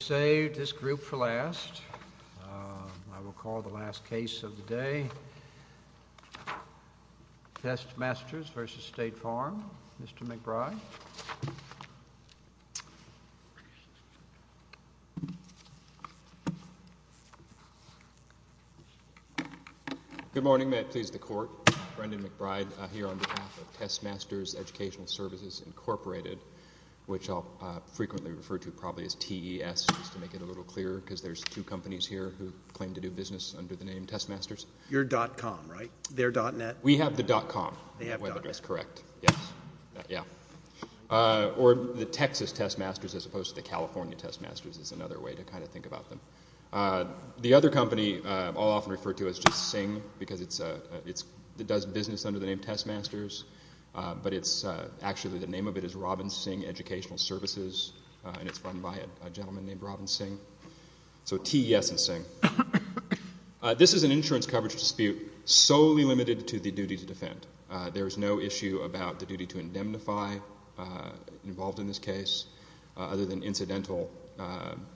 We saved this group for last. I will call the last case of the day. Test Masters v. State Farm, Mr. McBride. Good morning. May it please the Court. Brendan McBride here on behalf of Test Masters Educ Svc, Inc. which I'll frequently refer to probably as TES, just to make it a little clearer, because there's two companies here who claim to do business under the name Test Masters. You're .com, right? They're .net? We have the .com. They have .net. That's correct. Yes. Yeah. Or the Texas Test Masters as opposed to the California Test Masters is another way to kind of think about them. The other company I'll often refer to as just SING, because it does business under the name Test Masters, but actually the name of it is Robbins SING Educational Services, and it's run by a gentleman named Robin SING. So TES and SING. This is an insurance coverage dispute solely limited to the duty to defend. There is no issue about the duty to indemnify involved in this case other than incidental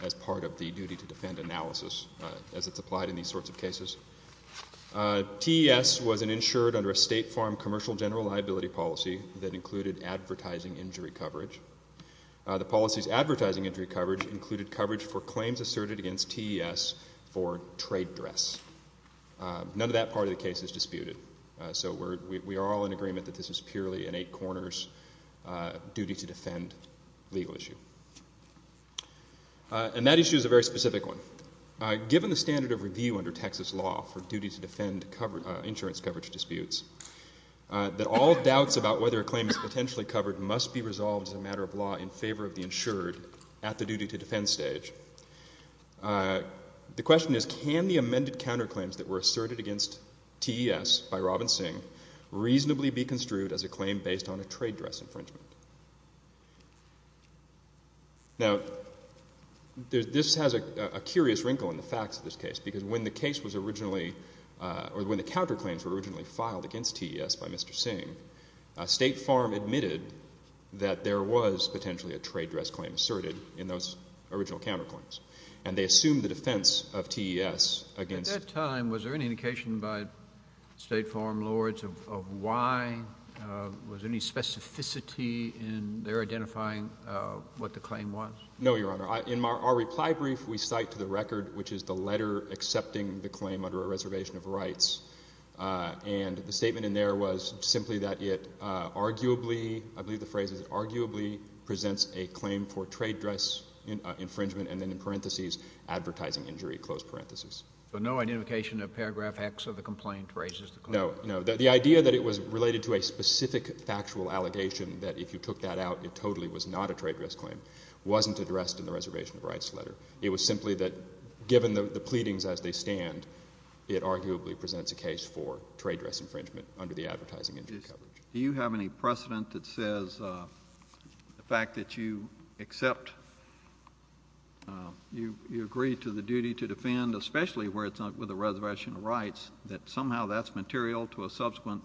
as part of the duty to defend analysis as it's applied in these sorts of cases. TES was insured under a State Farm commercial general liability policy that included advertising injury coverage. The policy's advertising injury coverage included coverage for claims asserted against TES for trade dress. None of that part of the case is disputed. So we are all in agreement that this is purely an eight corners duty to defend legal issue. And that issue is a very specific one. Given the standard of review under Texas law for duty to defend insurance coverage disputes, that all doubts about whether a claim is potentially covered must be resolved as a matter of law in favor of the insured at the duty to defend stage. The question is, can the amended counterclaims that were asserted against TES by Robin SING reasonably be construed as a claim based on a trade dress infringement? Now, this has a curious wrinkle in the facts of this case because when the case was originally, or when the counterclaims were originally filed against TES by Mr. SING, State Farm admitted that there was potentially a trade dress claim asserted in those original counterclaims. And they assumed the defense of TES against. At that time, was there any indication by State Farm lords of why? Was there any specificity in their identifying what the claim was? No, Your Honor. In our reply brief, we cite to the record, which is the letter accepting the claim under a reservation of rights. And the statement in there was simply that it arguably, I believe the phrase is arguably, presents a claim for trade dress infringement, and then in parentheses, advertising injury, close parentheses. So no identification of paragraph X of the complaint raises the claim? No. The idea that it was related to a specific factual allegation, that if you took that out, it totally was not a trade dress claim, wasn't addressed in the reservation of rights letter. It was simply that, given the pleadings as they stand, it arguably presents a case for trade dress infringement under the advertising injury coverage. Do you have any precedent that says the fact that you accept, you agree to the duty to defend, especially where it's with a reservation of rights, that somehow that's material to a subsequent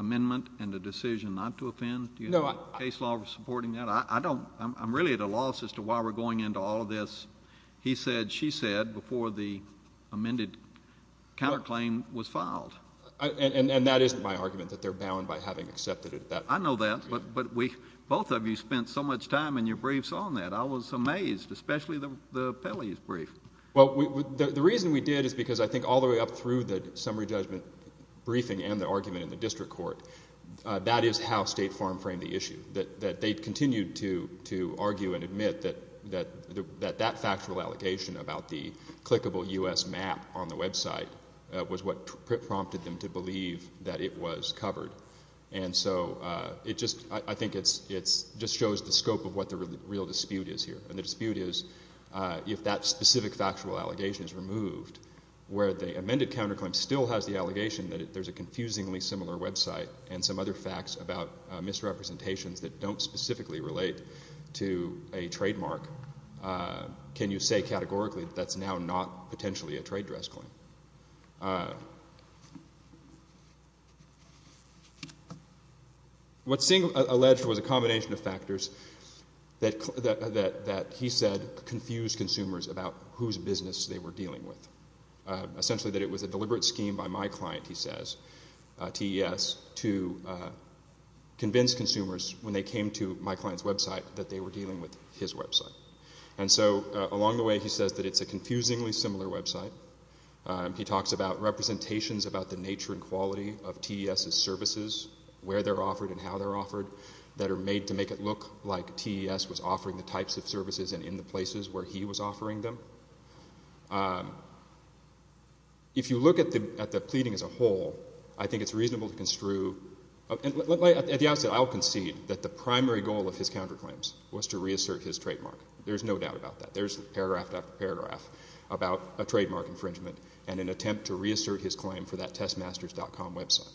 amendment and a decision not to offend? No. Do you have a case law supporting that? I don't. I'm really at a loss as to why we're going into all of this. He said, she said before the amended counterclaim was filed. And that isn't my argument, that they're bound by having accepted it at that point. I know that, but both of you spent so much time in your briefs on that. I was amazed, especially the Pelley's brief. Well, the reason we did is because I think all the way up through the summary judgment briefing and the argument in the district court, that is how State Farm framed the issue, that they continued to argue and admit that that factual allegation about the clickable U.S. map on the website was what prompted them to believe that it was covered. And so I think it just shows the scope of what the real dispute is here. And the dispute is if that specific factual allegation is removed, where the amended counterclaim still has the allegation that there's a confusingly similar website and some other facts about misrepresentations that don't specifically relate to a trademark, can you say categorically that that's now not potentially a trade dress claim? What Singh alleged was a combination of factors that he said confused consumers about whose business they were dealing with. Essentially that it was a deliberate scheme by my client, he says, TES, to convince consumers when they came to my client's website that they were dealing with his website. And so along the way he says that it's a confusingly similar website. He talks about representations about the nature and quality of TES's services, that are made to make it look like TES was offering the types of services and in the places where he was offering them. If you look at the pleading as a whole, I think it's reasonable to construe, at the outset I'll concede that the primary goal of his counterclaims was to reassert his trademark. There's no doubt about that. There's paragraph after paragraph about a trademark infringement and an attempt to reassert his claim for that testmasters.com website.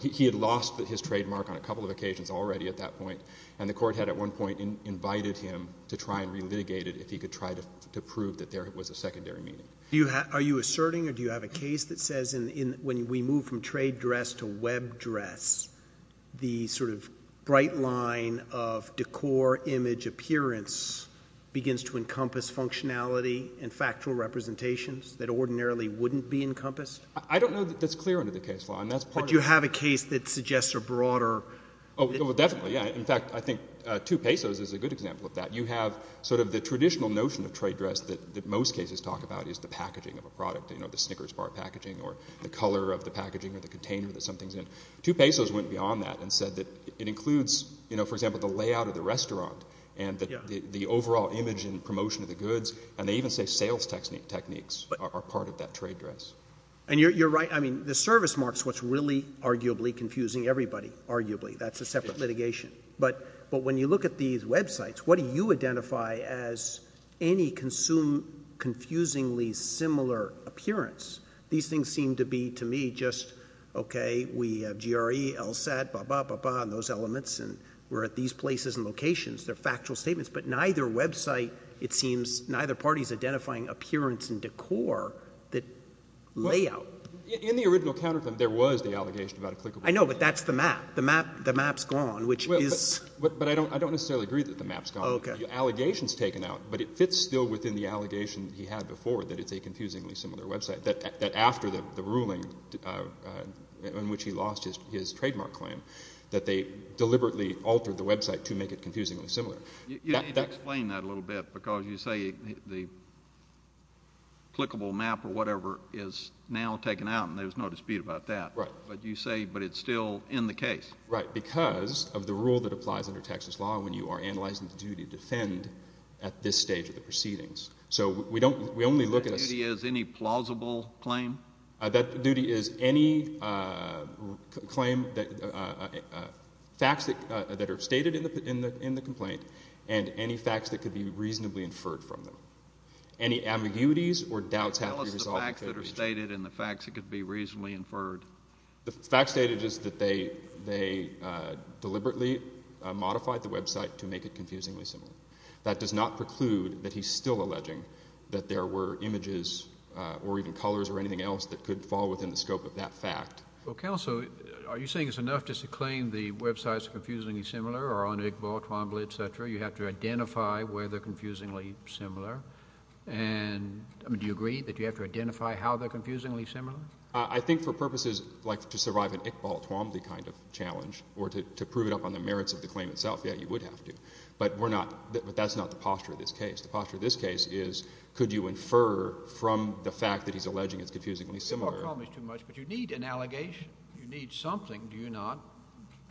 He had lost his trademark on a couple of occasions already at that point, and the court had at one point invited him to try and relitigate it if he could try to prove that there was a secondary meaning. Are you asserting or do you have a case that says when we move from trade dress to web dress, the sort of bright line of decor, image, appearance, begins to encompass functionality and factual representations that ordinarily wouldn't be encompassed? I don't know that that's clear under the case law, and that's part of it. But do you have a case that suggests a broader? Oh, definitely, yeah. In fact, I think 2 pesos is a good example of that. You have sort of the traditional notion of trade dress that most cases talk about is the packaging of a product, you know, the Snickers bar packaging or the color of the packaging or the container that something's in. 2 pesos went beyond that and said that it includes, you know, for example, the layout of the restaurant and the overall image and promotion of the goods, and they even say sales techniques are part of that trade dress. And you're right. I mean, the service marks what's really arguably confusing everybody, arguably. That's a separate litigation. But when you look at these websites, what do you identify as any confusingly similar appearance? These things seem to be to me just, okay, we have GRE, LSAT, blah, blah, blah, blah, and those elements, and we're at these places and locations. They're factual statements. But neither website, it seems, neither party is identifying appearance and decor that layout. In the original counterclaim, there was the allegation about a clickable website. I know, but that's the map. The map's gone, which is... But I don't necessarily agree that the map's gone. Okay. The allegation's taken out, but it fits still within the allegation that he had before that it's a confusingly similar website, that after the ruling in which he lost his trademark claim that they deliberately altered the website to make it confusingly similar. You need to explain that a little bit, because you say the clickable map or whatever is now taken out, and there's no dispute about that. Right. But you say it's still in the case. Right, because of the rule that applies under Texas law when you are analyzing the duty to defend at this stage of the proceedings. So we only look at a... That duty is any plausible claim? That duty is any claim, facts that are stated in the complaint, and any facts that could be reasonably inferred from them. Any ambiguities or doubts have to be resolved... Tell us the facts that are stated and the facts that could be reasonably inferred. The facts stated is that they deliberately modified the website to make it confusingly similar. That does not preclude that he's still alleging that there were images or even colors or anything else that could fall within the scope of that fact. Well, counsel, are you saying it's enough just to claim the websites are confusingly similar or on Iqbal, Twombly, etc.? You have to identify where they're confusingly similar. And do you agree that you have to identify how they're confusingly similar? I think for purposes like to survive an Iqbal, Twombly kind of challenge or to prove it up on the merits of the claim itself, yeah, you would have to. But we're not... But that's not the posture of this case. The posture of this case is could you infer from the fact that he's alleging it's confusingly similar? Iqbal called me too much, but you need an allegation. You need something, do you not,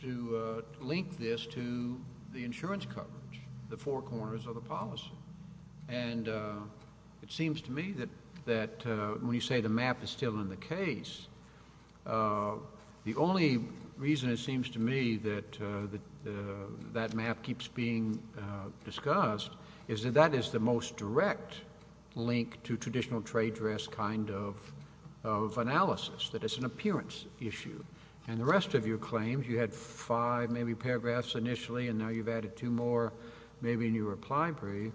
to link this to the insurance coverage, the four corners of the policy? And it seems to me that when you say the map is still in the case, the only reason it seems to me that that map keeps being discussed is that that is the most direct link to traditional trade dress kind of analysis, that it's an appearance issue. And the rest of your claims, you had five maybe paragraphs initially, and now you've added two more maybe in your reply brief.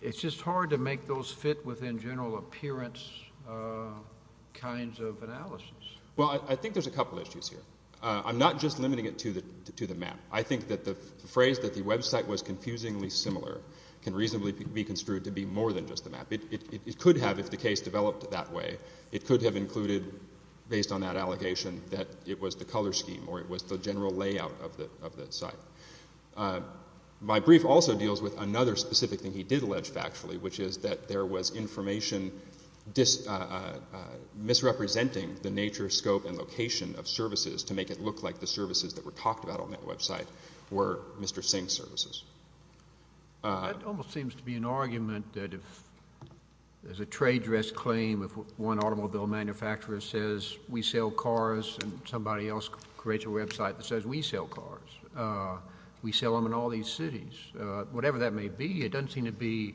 It's just hard to make those fit within general appearance kinds of analysis. Well, I think there's a couple issues here. I'm not just limiting it to the map. I think that the phrase that the website was confusingly similar can reasonably be construed to be more than just the map. It could have, if the case developed that way, it could have included based on that allegation that it was the color scheme or it was the general layout of the site. My brief also deals with another specific thing he did allege factually, which is that there was information misrepresenting the nature, scope, and location of services to make it look like the services that were talked about on that website were Mr. Singh's services. That almost seems to be an argument that if there's a trade dress claim, if one automobile manufacturer says we sell cars and somebody else creates a website that says we sell cars, we sell them in all these cities. Whatever that may be, it doesn't seem to be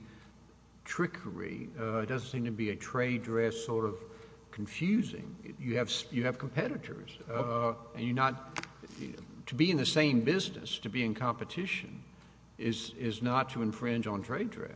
trickery. It doesn't seem to be a trade dress sort of confusing. You have competitors. To be in the same business, to be in competition, is not to infringe on trade dress.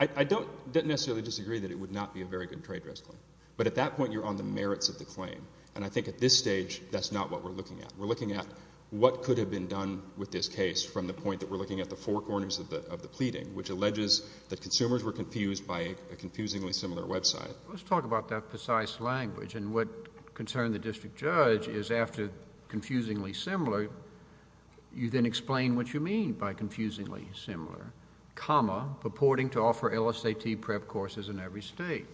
I don't necessarily disagree that it would not be a very good trade dress claim, but at that point you're on the merits of the claim, and I think at this stage that's not what we're looking at. We're looking at what could have been done with this case from the point that we're looking at the four corners of the pleading, which alleges that consumers were confused by a confusingly similar website. Let's talk about that precise language, and what concerned the district judge is after confusingly similar, you then explain what you mean by confusingly similar. Comma, purporting to offer LSAT prep courses in every state.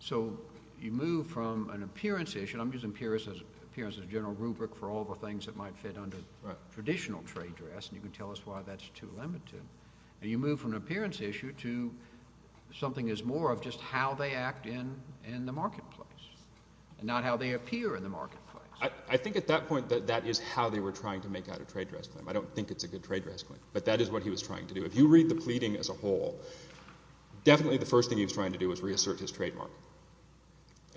So you move from an appearance issue, and I'm using appearance as a general rubric for all the things that might fit under traditional trade dress, and you can tell us why that's too limited. You move from an appearance issue to something is more of just how they act in the marketplace, and not how they appear in the marketplace. I think at that point that that is how they were trying to make out a trade dress claim. I don't think it's a good trade dress claim, but that is what he was trying to do. If you read the pleading as a whole, definitely the first thing he was trying to do was reassert his trademark,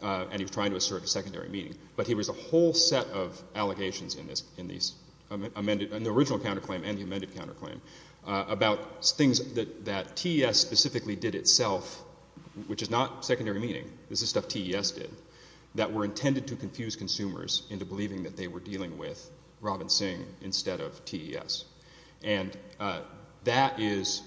and he was trying to assert a secondary meaning, but he was a whole set of allegations in the original counterclaim and the amended counterclaim about things that TES specifically did itself, which is not secondary meaning. This is stuff TES did that were intended to confuse consumers into believing that they were dealing with Robin Sing instead of TES. And that is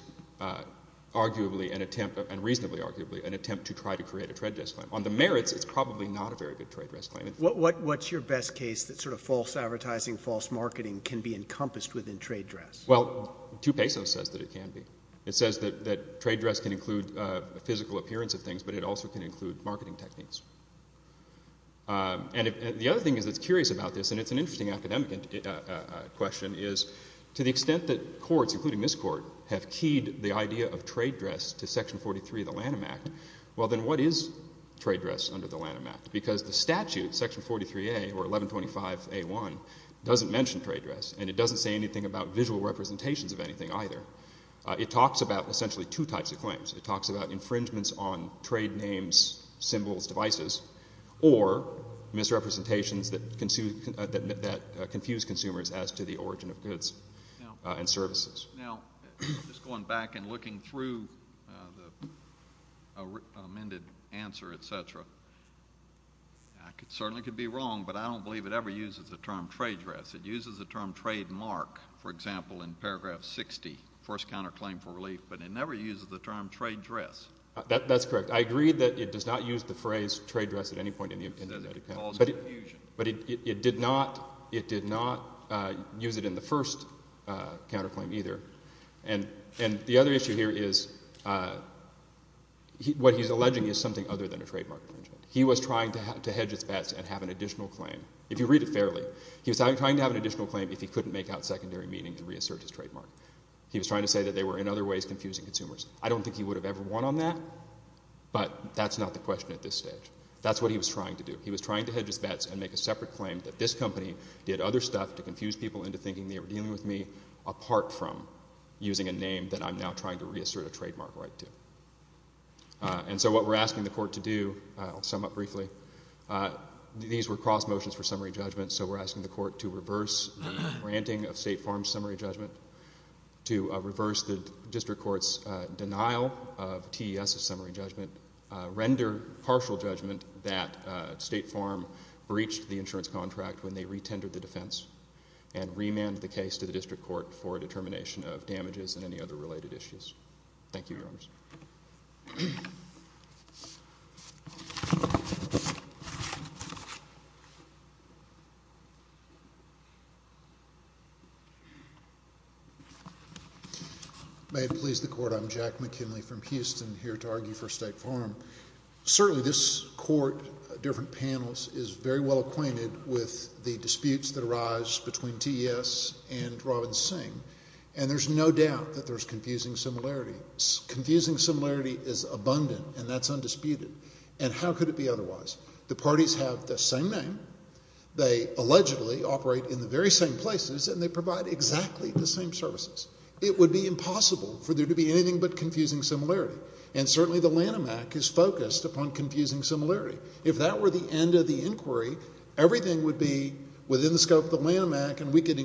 arguably an attempt, and reasonably arguably, an attempt to try to create a trade dress claim. On the merits, it's probably not a very good trade dress claim. What's your best case that sort of false advertising, false marketing, can be encompassed within trade dress? Well, 2 pesos says that it can be. It says that trade dress can include a physical appearance of things, but it also can include marketing techniques. And the other thing that's curious about this, and it's an interesting academic question, is to the extent that courts, including this court, have keyed the idea of trade dress to Section 43 of the Lanham Act, well, then what is trade dress under the Lanham Act? Because the statute, Section 43A or 1125A1, doesn't mention trade dress, and it doesn't say anything about visual representations of anything either. It talks about essentially two types of claims. It talks about infringements on trade names, symbols, devices, or misrepresentations that confuse consumers as to the origin of goods and services. Now, just going back and looking through the amended answer, et cetera, I certainly could be wrong, but I don't believe it ever uses the term trade dress. It uses the term trademark, for example, in paragraph 60, first counterclaim for relief, but it never uses the term trade dress. That's correct. I agree that it does not use the phrase trade dress at any point in the amended account. But it did not use it in the first counterclaim either. And the other issue here is what he's alleging is something other than a trademark infringement. He was trying to hedge his bets and have an additional claim, if you read it fairly. He was trying to have an additional claim if he couldn't make out secondary meaning to reassert his trademark. He was trying to say that they were in other ways confusing consumers. I don't think he would have ever won on that, but that's not the question at this stage. That's what he was trying to do. He was trying to hedge his bets and make a separate claim that this company did other stuff to confuse people into thinking they were dealing with me apart from using a name that I'm now trying to reassert a trademark right to. And so what we're asking the court to do, I'll sum up briefly, these were cross motions for summary judgment, so we're asking the court to reverse the granting of State Farm's summary judgment, to reverse the district court's denial of TES's summary judgment, render partial judgment that State Farm breached the insurance contract when they retendered the defense, and remand the case to the district court for determination of damages and any other related issues. Thank you, Your Honors. May it please the Court. I'm Jack McKinley from Houston here to argue for State Farm. Certainly this court, different panels, is very well acquainted with the disputes that arise between TES and Robin Singh, and there's no doubt that there's confusing similarities. Confusing similarity is abundant, and that's undisputed. And how could it be otherwise? The parties have the same name, they allegedly operate in the very same places, and they provide exactly the same services. It would be impossible for there to be anything but confusing similarity, and certainly the Lanham Act is focused upon confusing similarity. If that were the end of the inquiry, everything would be within the scope of the Lanham Act and we could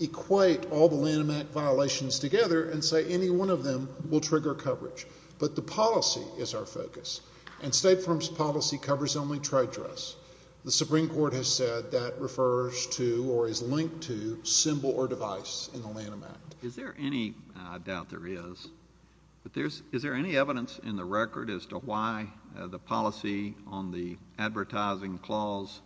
equate all the Lanham Act violations together and say any one of them will trigger coverage. But the policy is our focus, and State Farm's policy covers only trade dress. The Supreme Court has said that refers to or is linked to symbol or device in the Lanham Act. Is there any, I doubt there is, but is there any evidence in the record as to why the policy on the advertising clause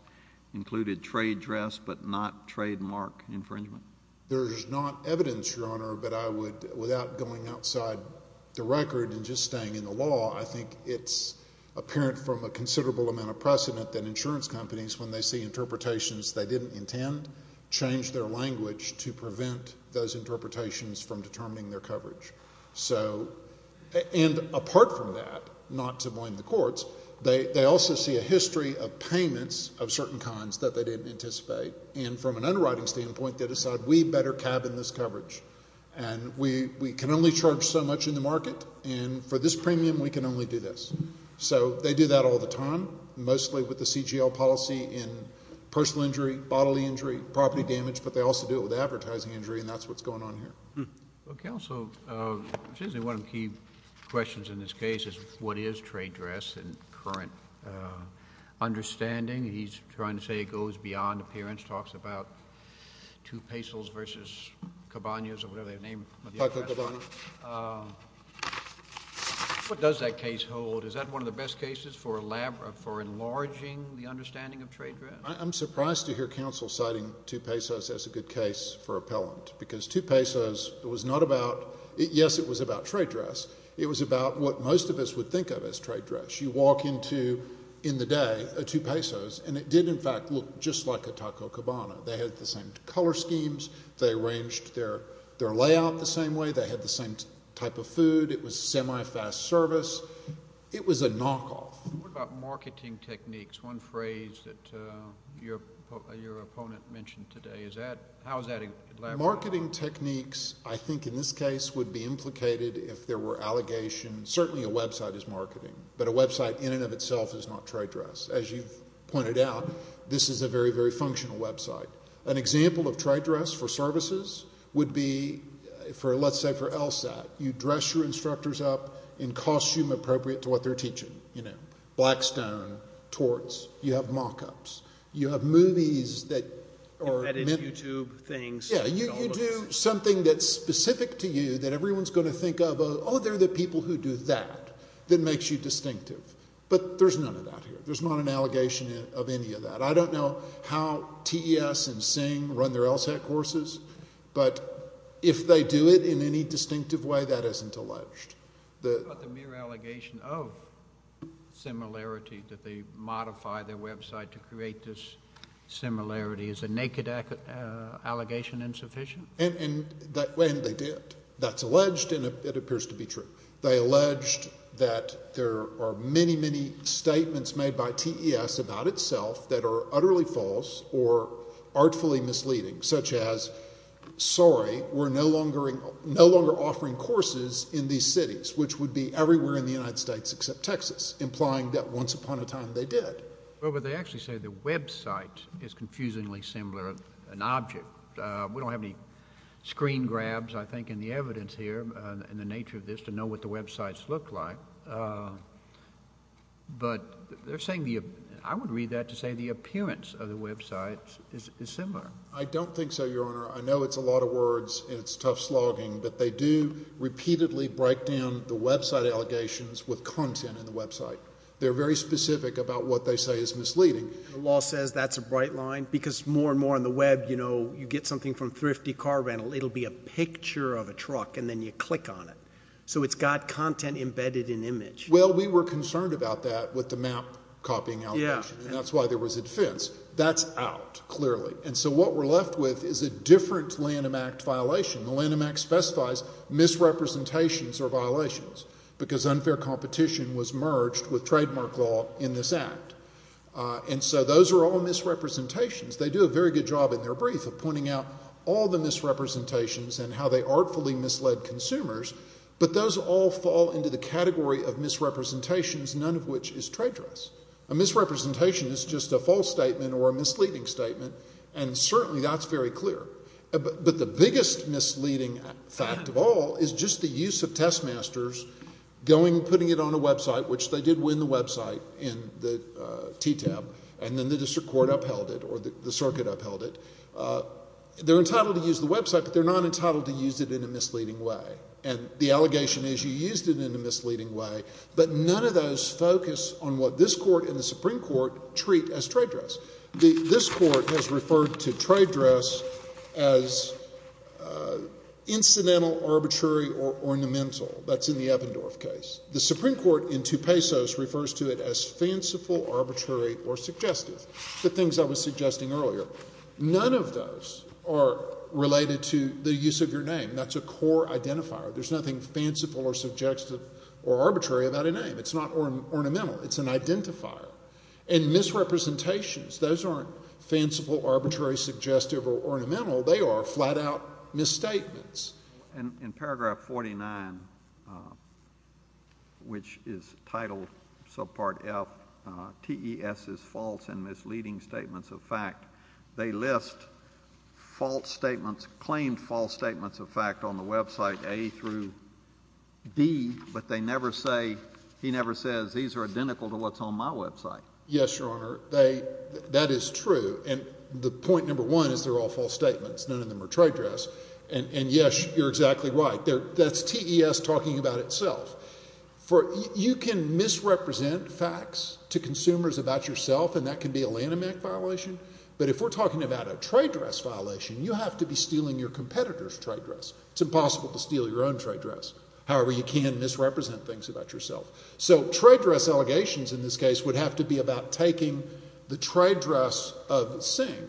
included trade dress but not trademark infringement? There's not evidence, Your Honor, but I would, without going outside the record and just staying in the law, I think it's apparent from a considerable amount of precedent that insurance companies, when they see interpretations they didn't intend, change their language to prevent those interpretations from determining their coverage. And apart from that, not to blame the courts, they also see a history of payments of certain kinds that they didn't anticipate, and from an underwriting standpoint they decide we better cabin this coverage and we can only charge so much in the market and for this premium we can only do this. So they do that all the time, mostly with the CGL policy in personal injury, bodily injury, property damage, but they also do it with advertising injury and that's what's going on here. Counsel, one of the key questions in this case is what is trade dress in current understanding? He's trying to say it goes beyond appearance, talks about 2 pesos versus cabanas or whatever they're named. Taco cabana. What does that case hold? Is that one of the best cases for enlarging the understanding of trade dress? I'm surprised to hear counsel citing 2 pesos as a good case for appellant because 2 pesos was not about, yes, it was about trade dress. It was about what most of us would think of as trade dress. You walk into in the day a 2 pesos and it did in fact look just like a taco cabana. They had the same color schemes. They arranged their layout the same way. They had the same type of food. It was semi-fast service. It was a knockoff. What about marketing techniques, one phrase that your opponent mentioned today? Marketing techniques I think in this case would be implicated if there were allegations. Certainly a website is marketing, but a website in and of itself is not trade dress. As you've pointed out, this is a very, very functional website. An example of trade dress for services would be, let's say for LSAT, you dress your instructors up in costume appropriate to what they're teaching, you know, Yeah, you do something that's specific to you that everyone's going to think of, oh, they're the people who do that, that makes you distinctive. But there's none of that here. There's not an allegation of any of that. I don't know how TES and SING run their LSAT courses, but if they do it in any distinctive way, that isn't alleged. What about the mere allegation of similarity that they modify their website to create this similarity? Is a naked allegation insufficient? And they did. That's alleged, and it appears to be true. They alleged that there are many, many statements made by TES about itself that are utterly false or artfully misleading, such as, sorry, we're no longer offering courses in these cities, which would be everywhere in the United States except Texas, implying that once upon a time they did. Well, but they actually say the website is confusingly similar, an object. We don't have any screen grabs, I think, in the evidence here, in the nature of this, to know what the websites look like. But they're saying, I would read that to say the appearance of the websites is similar. I don't think so, Your Honor. I know it's a lot of words and it's tough slogging, but they do repeatedly break down the website allegations with content in the website. They're very specific about what they say is misleading. The law says that's a bright line because more and more on the web, you know, you get something from Thrifty Car Rental, it'll be a picture of a truck, and then you click on it. So it's got content embedded in image. Well, we were concerned about that with the map copying allegation, and that's why there was a defense. That's out, clearly. And so what we're left with is a different Lanham Act violation. The Lanham Act specifies misrepresentations are violations because unfair competition was merged with trademark law in this act. And so those are all misrepresentations. They do a very good job in their brief of pointing out all the misrepresentations and how they artfully misled consumers, but those all fall into the category of misrepresentations, none of which is trade trusts. A misrepresentation is just a false statement or a misleading statement, and certainly that's very clear. But the biggest misleading fact of all is just the use of testmasters going and putting it on a website, which they did win the website in the TTAB, and then the district court upheld it or the circuit upheld it. They're entitled to use the website, but they're not entitled to use it in a misleading way. And the allegation is you used it in a misleading way, but none of those focus on what this court and the Supreme Court treat as trade trusts. This court has referred to trade trusts as incidental, arbitrary, or ornamental. That's in the Evendorf case. The Supreme Court in Tupesos refers to it as fanciful, arbitrary, or suggestive, the things I was suggesting earlier. None of those are related to the use of your name. That's a core identifier. There's nothing fanciful or subjective or arbitrary about a name. It's not ornamental. It's an identifier. And misrepresentations, those aren't fanciful, arbitrary, suggestive, or ornamental. They are flat-out misstatements. In paragraph 49, which is title subpart F, TES is false and misleading statements of fact. They list false statements, claimed false statements of fact on the website A through B, but they never say, he never says, these are identical to what's on my website. Yes, Your Honor. That is true. And the point number one is they're all false statements. None of them are trade trusts. And, yes, you're exactly right. That's TES talking about itself. You can misrepresent facts to consumers about yourself, and that can be a Lanham Act violation. But if we're talking about a trade trust violation, you have to be stealing your competitor's trade trust. It's impossible to steal your own trade trust. However, you can misrepresent things about yourself. So trade trust allegations in this case would have to be about taking the trade trust of Singh.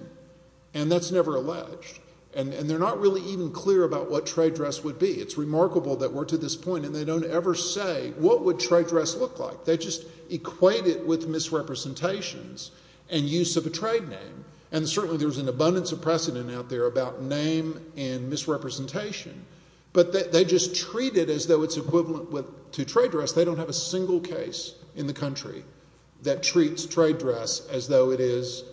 And that's never alleged. And they're not really even clear about what trade trust would be. It's remarkable that we're to this point and they don't ever say what would trade trust look like. They just equate it with misrepresentations and use of a trade name. And certainly there's an abundance of precedent out there about name and misrepresentation. But they just treat it as though it's equivalent to trade trust. They don't have a single case in the country that treats trade trust as though it is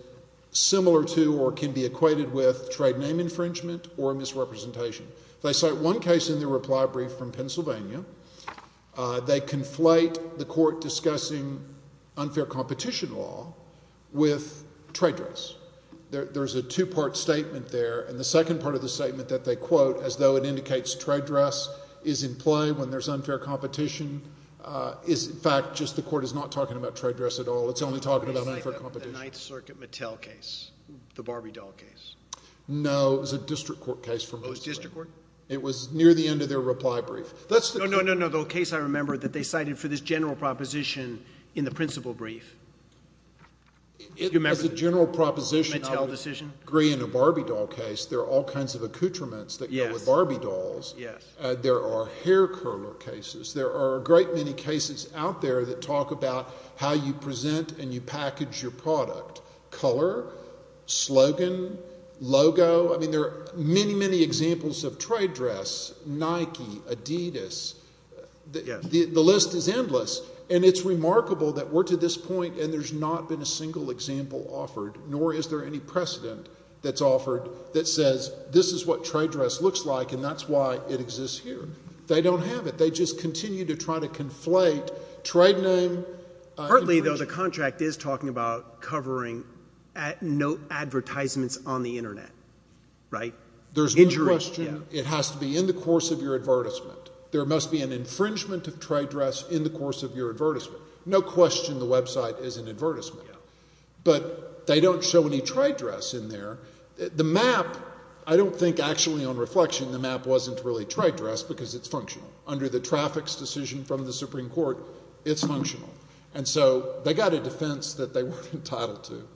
similar to or can be equated with trade name infringement or misrepresentation. They cite one case in their reply brief from Pennsylvania. They conflate the court discussing unfair competition law with trade trust. There's a two-part statement there. And the second part of the statement that they quote as though it indicates trade trust is in play when there's unfair competition is, in fact, just the court is not talking about trade trust at all. It's only talking about unfair competition. The Ninth Circuit Mattel case, the Barbie doll case. No, it was a district court case. Oh, it was district court? It was near the end of their reply brief. No, no, no, the case I remember that they cited for this general proposition in the principal brief. Do you remember the Mattel decision? As a general proposition, I would agree in a Barbie doll case there are all kinds of accoutrements that go with Barbie dolls. Yes. There are hair curler cases. There are a great many cases out there that talk about how you present and you package your product. Color, slogan, logo. I mean there are many, many examples of trade dress, Nike, Adidas. The list is endless. And it's remarkable that we're to this point and there's not been a single example offered, nor is there any precedent that's offered that says this is what trade dress looks like and that's why it exists here. They don't have it. They just continue to try to conflate trade name. Partly, though, the contract is talking about covering no advertisements on the Internet, right? There's no question. It has to be in the course of your advertisement. There must be an infringement of trade dress in the course of your advertisement. No question the website is an advertisement. But they don't show any trade dress in there. The map, I don't think actually on reflection the map wasn't really trade dress because it's functional. Under the traffic's decision from the Supreme Court, it's functional. And so they got a defense that they weren't entitled to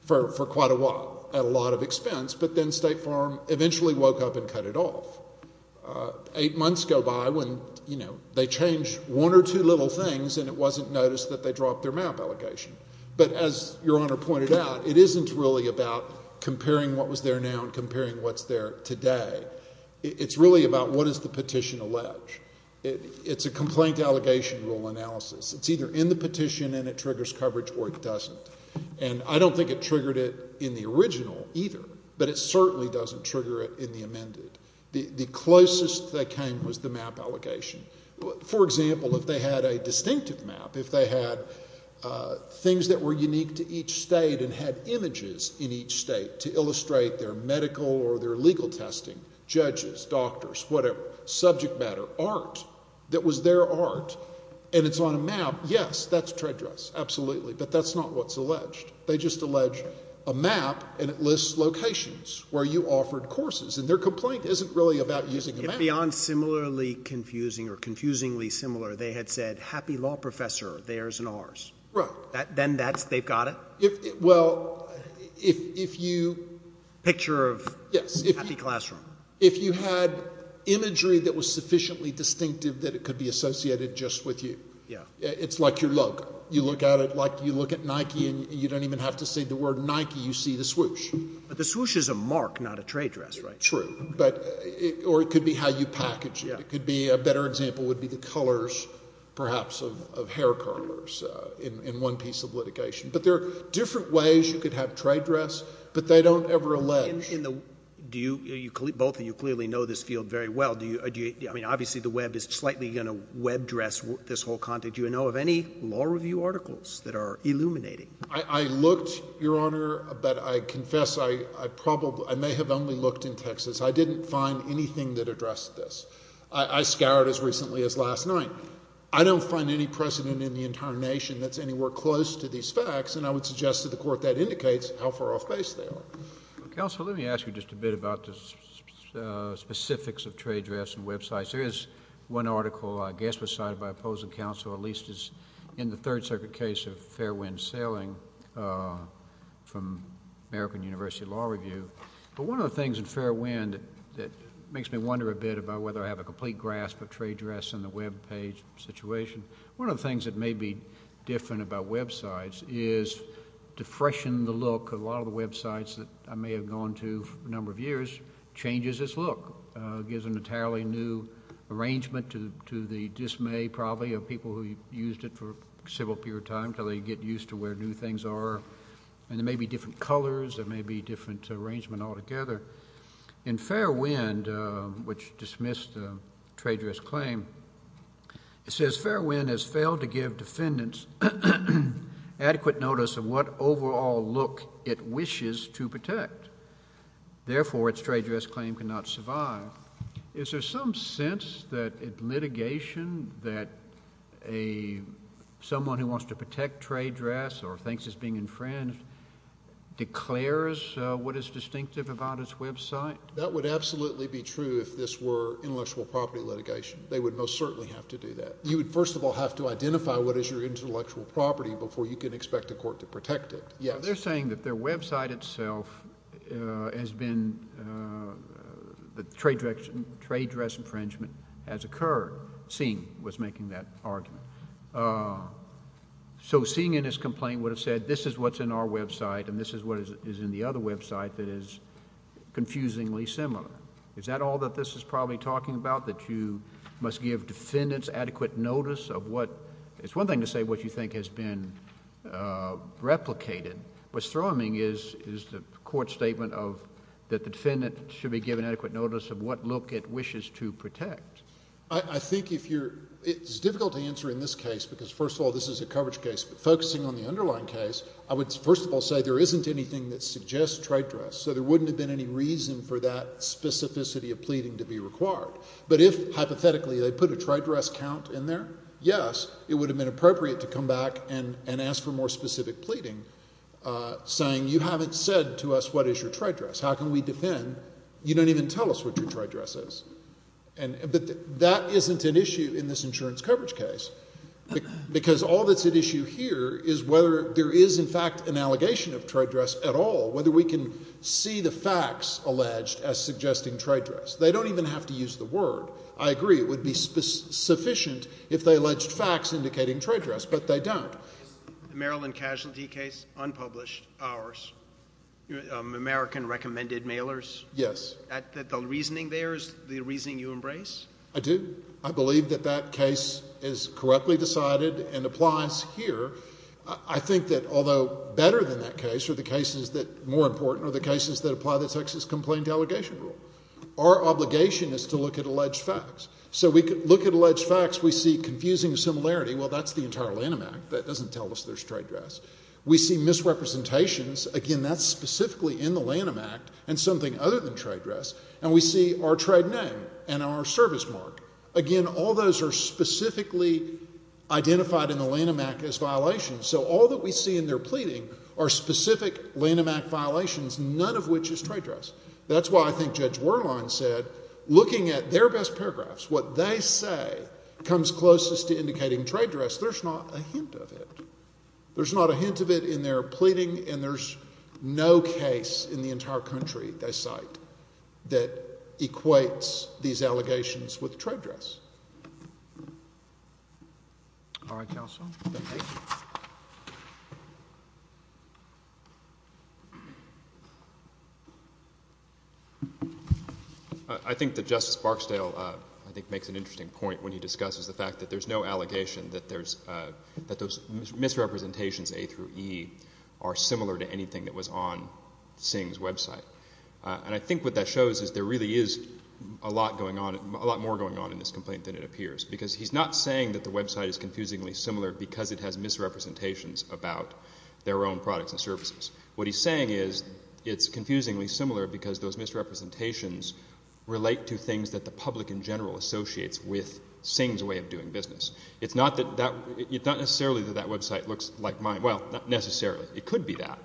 for quite a while at a lot of expense, but then State Farm eventually woke up and cut it off. Eight months go by when, you know, they change one or two little things and it wasn't noticed that they dropped their map allegation. But as Your Honor pointed out, it isn't really about comparing what was there now and comparing what's there today. It's really about what does the petition allege. It's a complaint allegation rule analysis. It's either in the petition and it triggers coverage or it doesn't. And I don't think it triggered it in the original either, but it certainly doesn't trigger it in the amended. The closest they came was the map allegation. For example, if they had a distinctive map, if they had things that were unique to each state and had images in each state to illustrate their medical or their legal testing, judges, doctors, whatever, subject matter, art, that was their art, and it's on a map, yes, that's trade dress, absolutely. But that's not what's alleged. They just allege a map and it lists locations where you offered courses. And their complaint isn't really about using a map. If beyond similarly confusing or confusingly similar, they had said happy law professor, theirs and ours. Right. Then that's, they've got it? Well, if you. Picture of happy classroom. If you had imagery that was sufficiently distinctive that it could be associated just with you. Yeah. It's like your look. You look at it like you look at Nike and you don't even have to say the word Nike, you see the swoosh. But the swoosh is a mark, not a trade dress, right? True. Or it could be how you package it. It could be, a better example would be the colors perhaps of hair curlers in one piece of litigation. But there are different ways you could have trade dress, but they don't ever allege. Do you, both of you clearly know this field very well. Do you, I mean, obviously the web is slightly going to web dress this whole content. Do you know of any law review articles that are illuminating? I looked, Your Honor, but I confess I probably, I may have only looked in Texas. I didn't find anything that addressed this. I scoured as recently as last night. I don't find any precedent in the entire nation that's anywhere close to these facts. And I would suggest to the Court that indicates how far off base they are. Counsel, let me ask you just a bit about the specifics of trade dress and websites. There is one article I guess was cited by opposing counsel, at least in the Third Circuit case of Fairwind Sailing from American University Law Review. But one of the things in Fairwind that makes me wonder a bit about whether I have a complete grasp of trade dress and the web page situation, one of the things that may be different about websites is to freshen the look of a lot of the websites that I may have gone to for a number of years changes its look. It gives an entirely new arrangement to the dismay probably of people who used it for a civil period of time until they get used to where new things are. And there may be different colors. There may be different arrangements altogether. In Fairwind, which dismissed the trade dress claim, it says Fairwind has failed to give defendants adequate notice of what overall look it wishes to protect. Therefore, its trade dress claim cannot survive. Is there some sense that litigation that someone who wants to protect trade dress or thinks it's being infringed declares what is distinctive about its website? That would absolutely be true if this were intellectual property litigation. They would most certainly have to do that. You would first of all have to identify what is your intellectual property before you can expect a court to protect it. They're saying that their website itself has been the trade dress infringement has occurred. Singh was making that argument. So Singh in his complaint would have said this is what's in our website and this is what is in the other website that is confusingly similar. Is that all that this is probably talking about, that you must give defendants adequate notice of what? It's one thing to say what you think has been replicated. What's throbbing is the court's statement of that the defendant should be given adequate notice of what look it wishes to protect. I think if you're—it's difficult to answer in this case because, first of all, this is a coverage case. But focusing on the underlying case, I would first of all say there isn't anything that suggests trade dress. So there wouldn't have been any reason for that specificity of pleading to be required. But if, hypothetically, they put a trade dress count in there, yes, it would have been appropriate to come back and ask for more specific pleading saying you haven't said to us what is your trade dress. How can we defend? You don't even tell us what your trade dress is. But that isn't an issue in this insurance coverage case because all that's at issue here is whether there is, in fact, an allegation of trade dress at all, whether we can see the facts alleged as suggesting trade dress. They don't even have to use the word. I agree it would be sufficient if they alleged facts indicating trade dress, but they don't. The Maryland casualty case, unpublished, ours, American recommended mailers. Yes. That the reasoning there is the reasoning you embrace? I do. I believe that that case is correctly decided and applies here. I think that although better than that case are the cases that, more important, are the cases that apply the Texas Complaint Delegation Rule. Our obligation is to look at alleged facts. So we look at alleged facts, we see confusing similarity. Well, that's the entire Lanham Act. That doesn't tell us there's trade dress. We see misrepresentations. Again, that's specifically in the Lanham Act and something other than trade dress. And we see our trade name and our service mark. Again, all those are specifically identified in the Lanham Act as violations. So all that we see in their pleading are specific Lanham Act violations, none of which is trade dress. That's why I think Judge Werlein said, looking at their best paragraphs, what they say comes closest to indicating trade dress. There's not a hint of it. There's not a hint of it in their pleading, and there's no case in the entire country, they cite, that equates these allegations with trade dress. All right, counsel. Thank you. I think that Justice Barksdale, I think, makes an interesting point when he discusses the fact that there's no allegation that there's misrepresentations A through E are similar to anything that was on Singh's website. And I think what that shows is there really is a lot more going on in this complaint than it appears, because he's not saying that the website is confusingly similar because it has misrepresentations about their own products and services. What he's saying is it's confusingly similar because those misrepresentations relate to things that the public in general associates with Singh's way of doing business. It's not necessarily that that website looks like mine. Well, not necessarily. It could be that.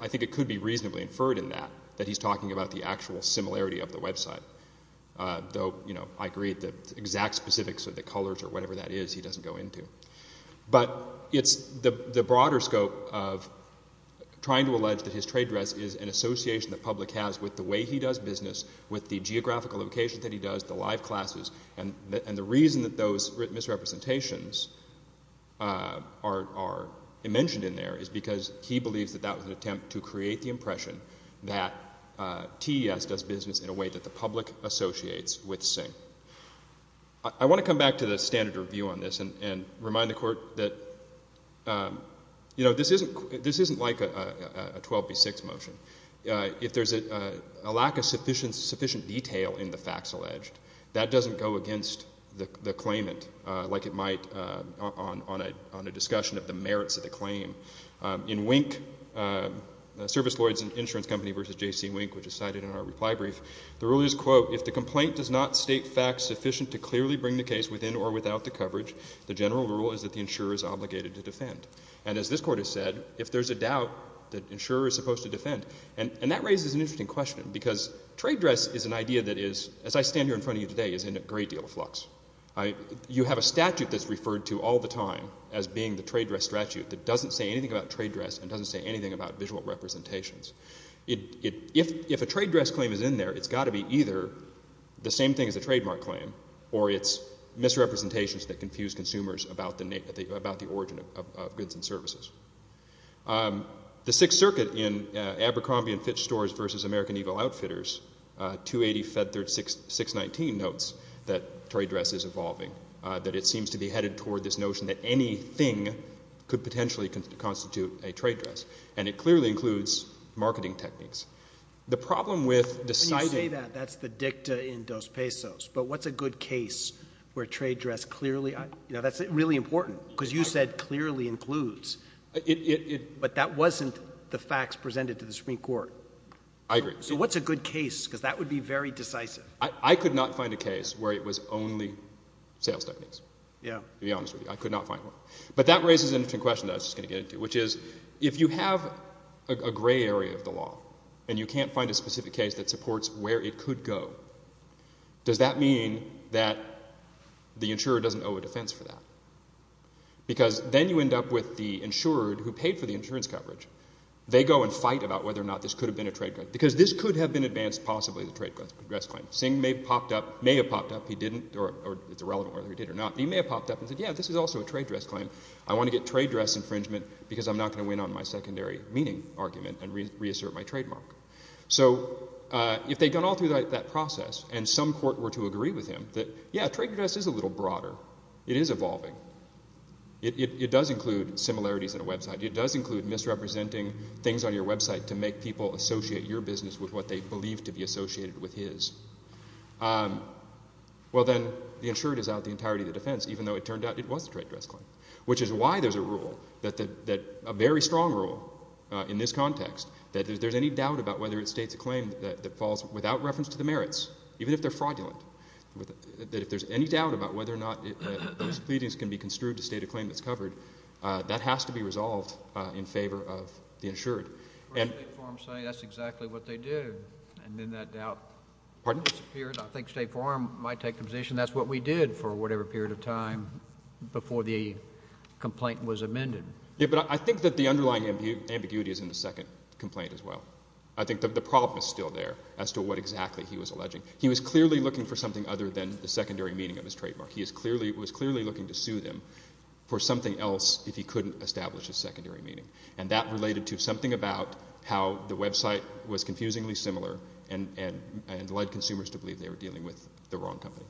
I think it could be reasonably inferred in that, that he's talking about the actual similarity of the website, though I agree the exact specifics of the colors or whatever that is, he doesn't go into. But it's the broader scope of trying to allege that his trade dress is an association the public has with the way he does business, with the geographical location that he does, the live classes. And the reason that those misrepresentations are mentioned in there is because he believes that that was an attempt to create the impression that TES does business in a way that the public associates with Singh. I want to come back to the standard review on this and remind the Court that, you know, this isn't like a 12b6 motion. If there's a lack of sufficient detail in the facts alleged, that doesn't go against the claimant like it might on a discussion of the merits of the claim. In Wink, Service Lloyd's Insurance Company v. J.C. Wink, which is cited in our reply brief, the rule is, quote, if the complaint does not state facts sufficient to clearly bring the case within or without the coverage, the general rule is that the insurer is obligated to defend. And as this Court has said, if there's a doubt, the insurer is supposed to defend. And that raises an interesting question because trade dress is an idea that is, as I stand here in front of you today, is in a great deal of flux. You have a statute that's referred to all the time as being the trade dress statute that doesn't say anything about trade dress and doesn't say anything about visual representations. If a trade dress claim is in there, it's got to be either the same thing as a trademark claim or it's misrepresentations that confuse consumers about the origin of goods and services. The Sixth Circuit in Abercrombie & Fitch Stores v. American Eagle Outfitters, 280 Fed 3619, notes that trade dress is evolving, that it seems to be headed toward this notion that anything could potentially constitute a trade dress. And it clearly includes marketing techniques. The problem with deciding— When you say that, that's the dicta in dos pesos. But what's a good case where trade dress clearly—you know, that's really important because you said clearly includes. But that wasn't the facts presented to the Supreme Court. I agree. So what's a good case? Because that would be very decisive. I could not find a case where it was only sales techniques, to be honest with you. I could not find one. But that raises an interesting question that I was just going to get into, which is if you have a gray area of the law and you can't find a specific case that supports where it could go, does that mean that the insurer doesn't owe a defense for that? Because then you end up with the insurer who paid for the insurance coverage. They go and fight about whether or not this could have been a trade dress because this could have been advanced possibly as a trade dress claim. Singh may have popped up. He may have popped up. He didn't, or it's irrelevant whether he did or not. But he may have popped up and said, yeah, this is also a trade dress claim. I want to get trade dress infringement because I'm not going to win on my secondary meaning argument and reassert my trademark. So if they'd gone all through that process and some court were to agree with him that, yeah, trade dress is a little broader. It is evolving. It does include similarities in a website. It does include misrepresenting things on your website to make people associate your business with what they believe to be associated with his. Well, then the insured is out the entirety of the defense, even though it turned out it was a trade dress claim, which is why there's a rule, a very strong rule in this context, that if there's any doubt about whether it states a claim that falls without reference to the merits, even if they're fraudulent, that if there's any doubt about whether or not those pleadings can be construed to state a claim that's covered, that has to be resolved in favor of the insured. That's exactly what they did, and then that doubt disappeared. I think State Farm might take the position that's what we did for whatever period of time before the complaint was amended. Yeah, but I think that the underlying ambiguity is in the second complaint as well. I think that the problem is still there as to what exactly he was alleging. He was clearly looking for something other than the secondary meaning of his trademark. He was clearly looking to sue them for something else if he couldn't establish his secondary meaning, and that related to something about how the website was confusingly similar and led consumers to believe they were dealing with the wrong company.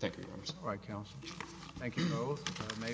Thank you, Your Honor. All right, counsel. Thank you both.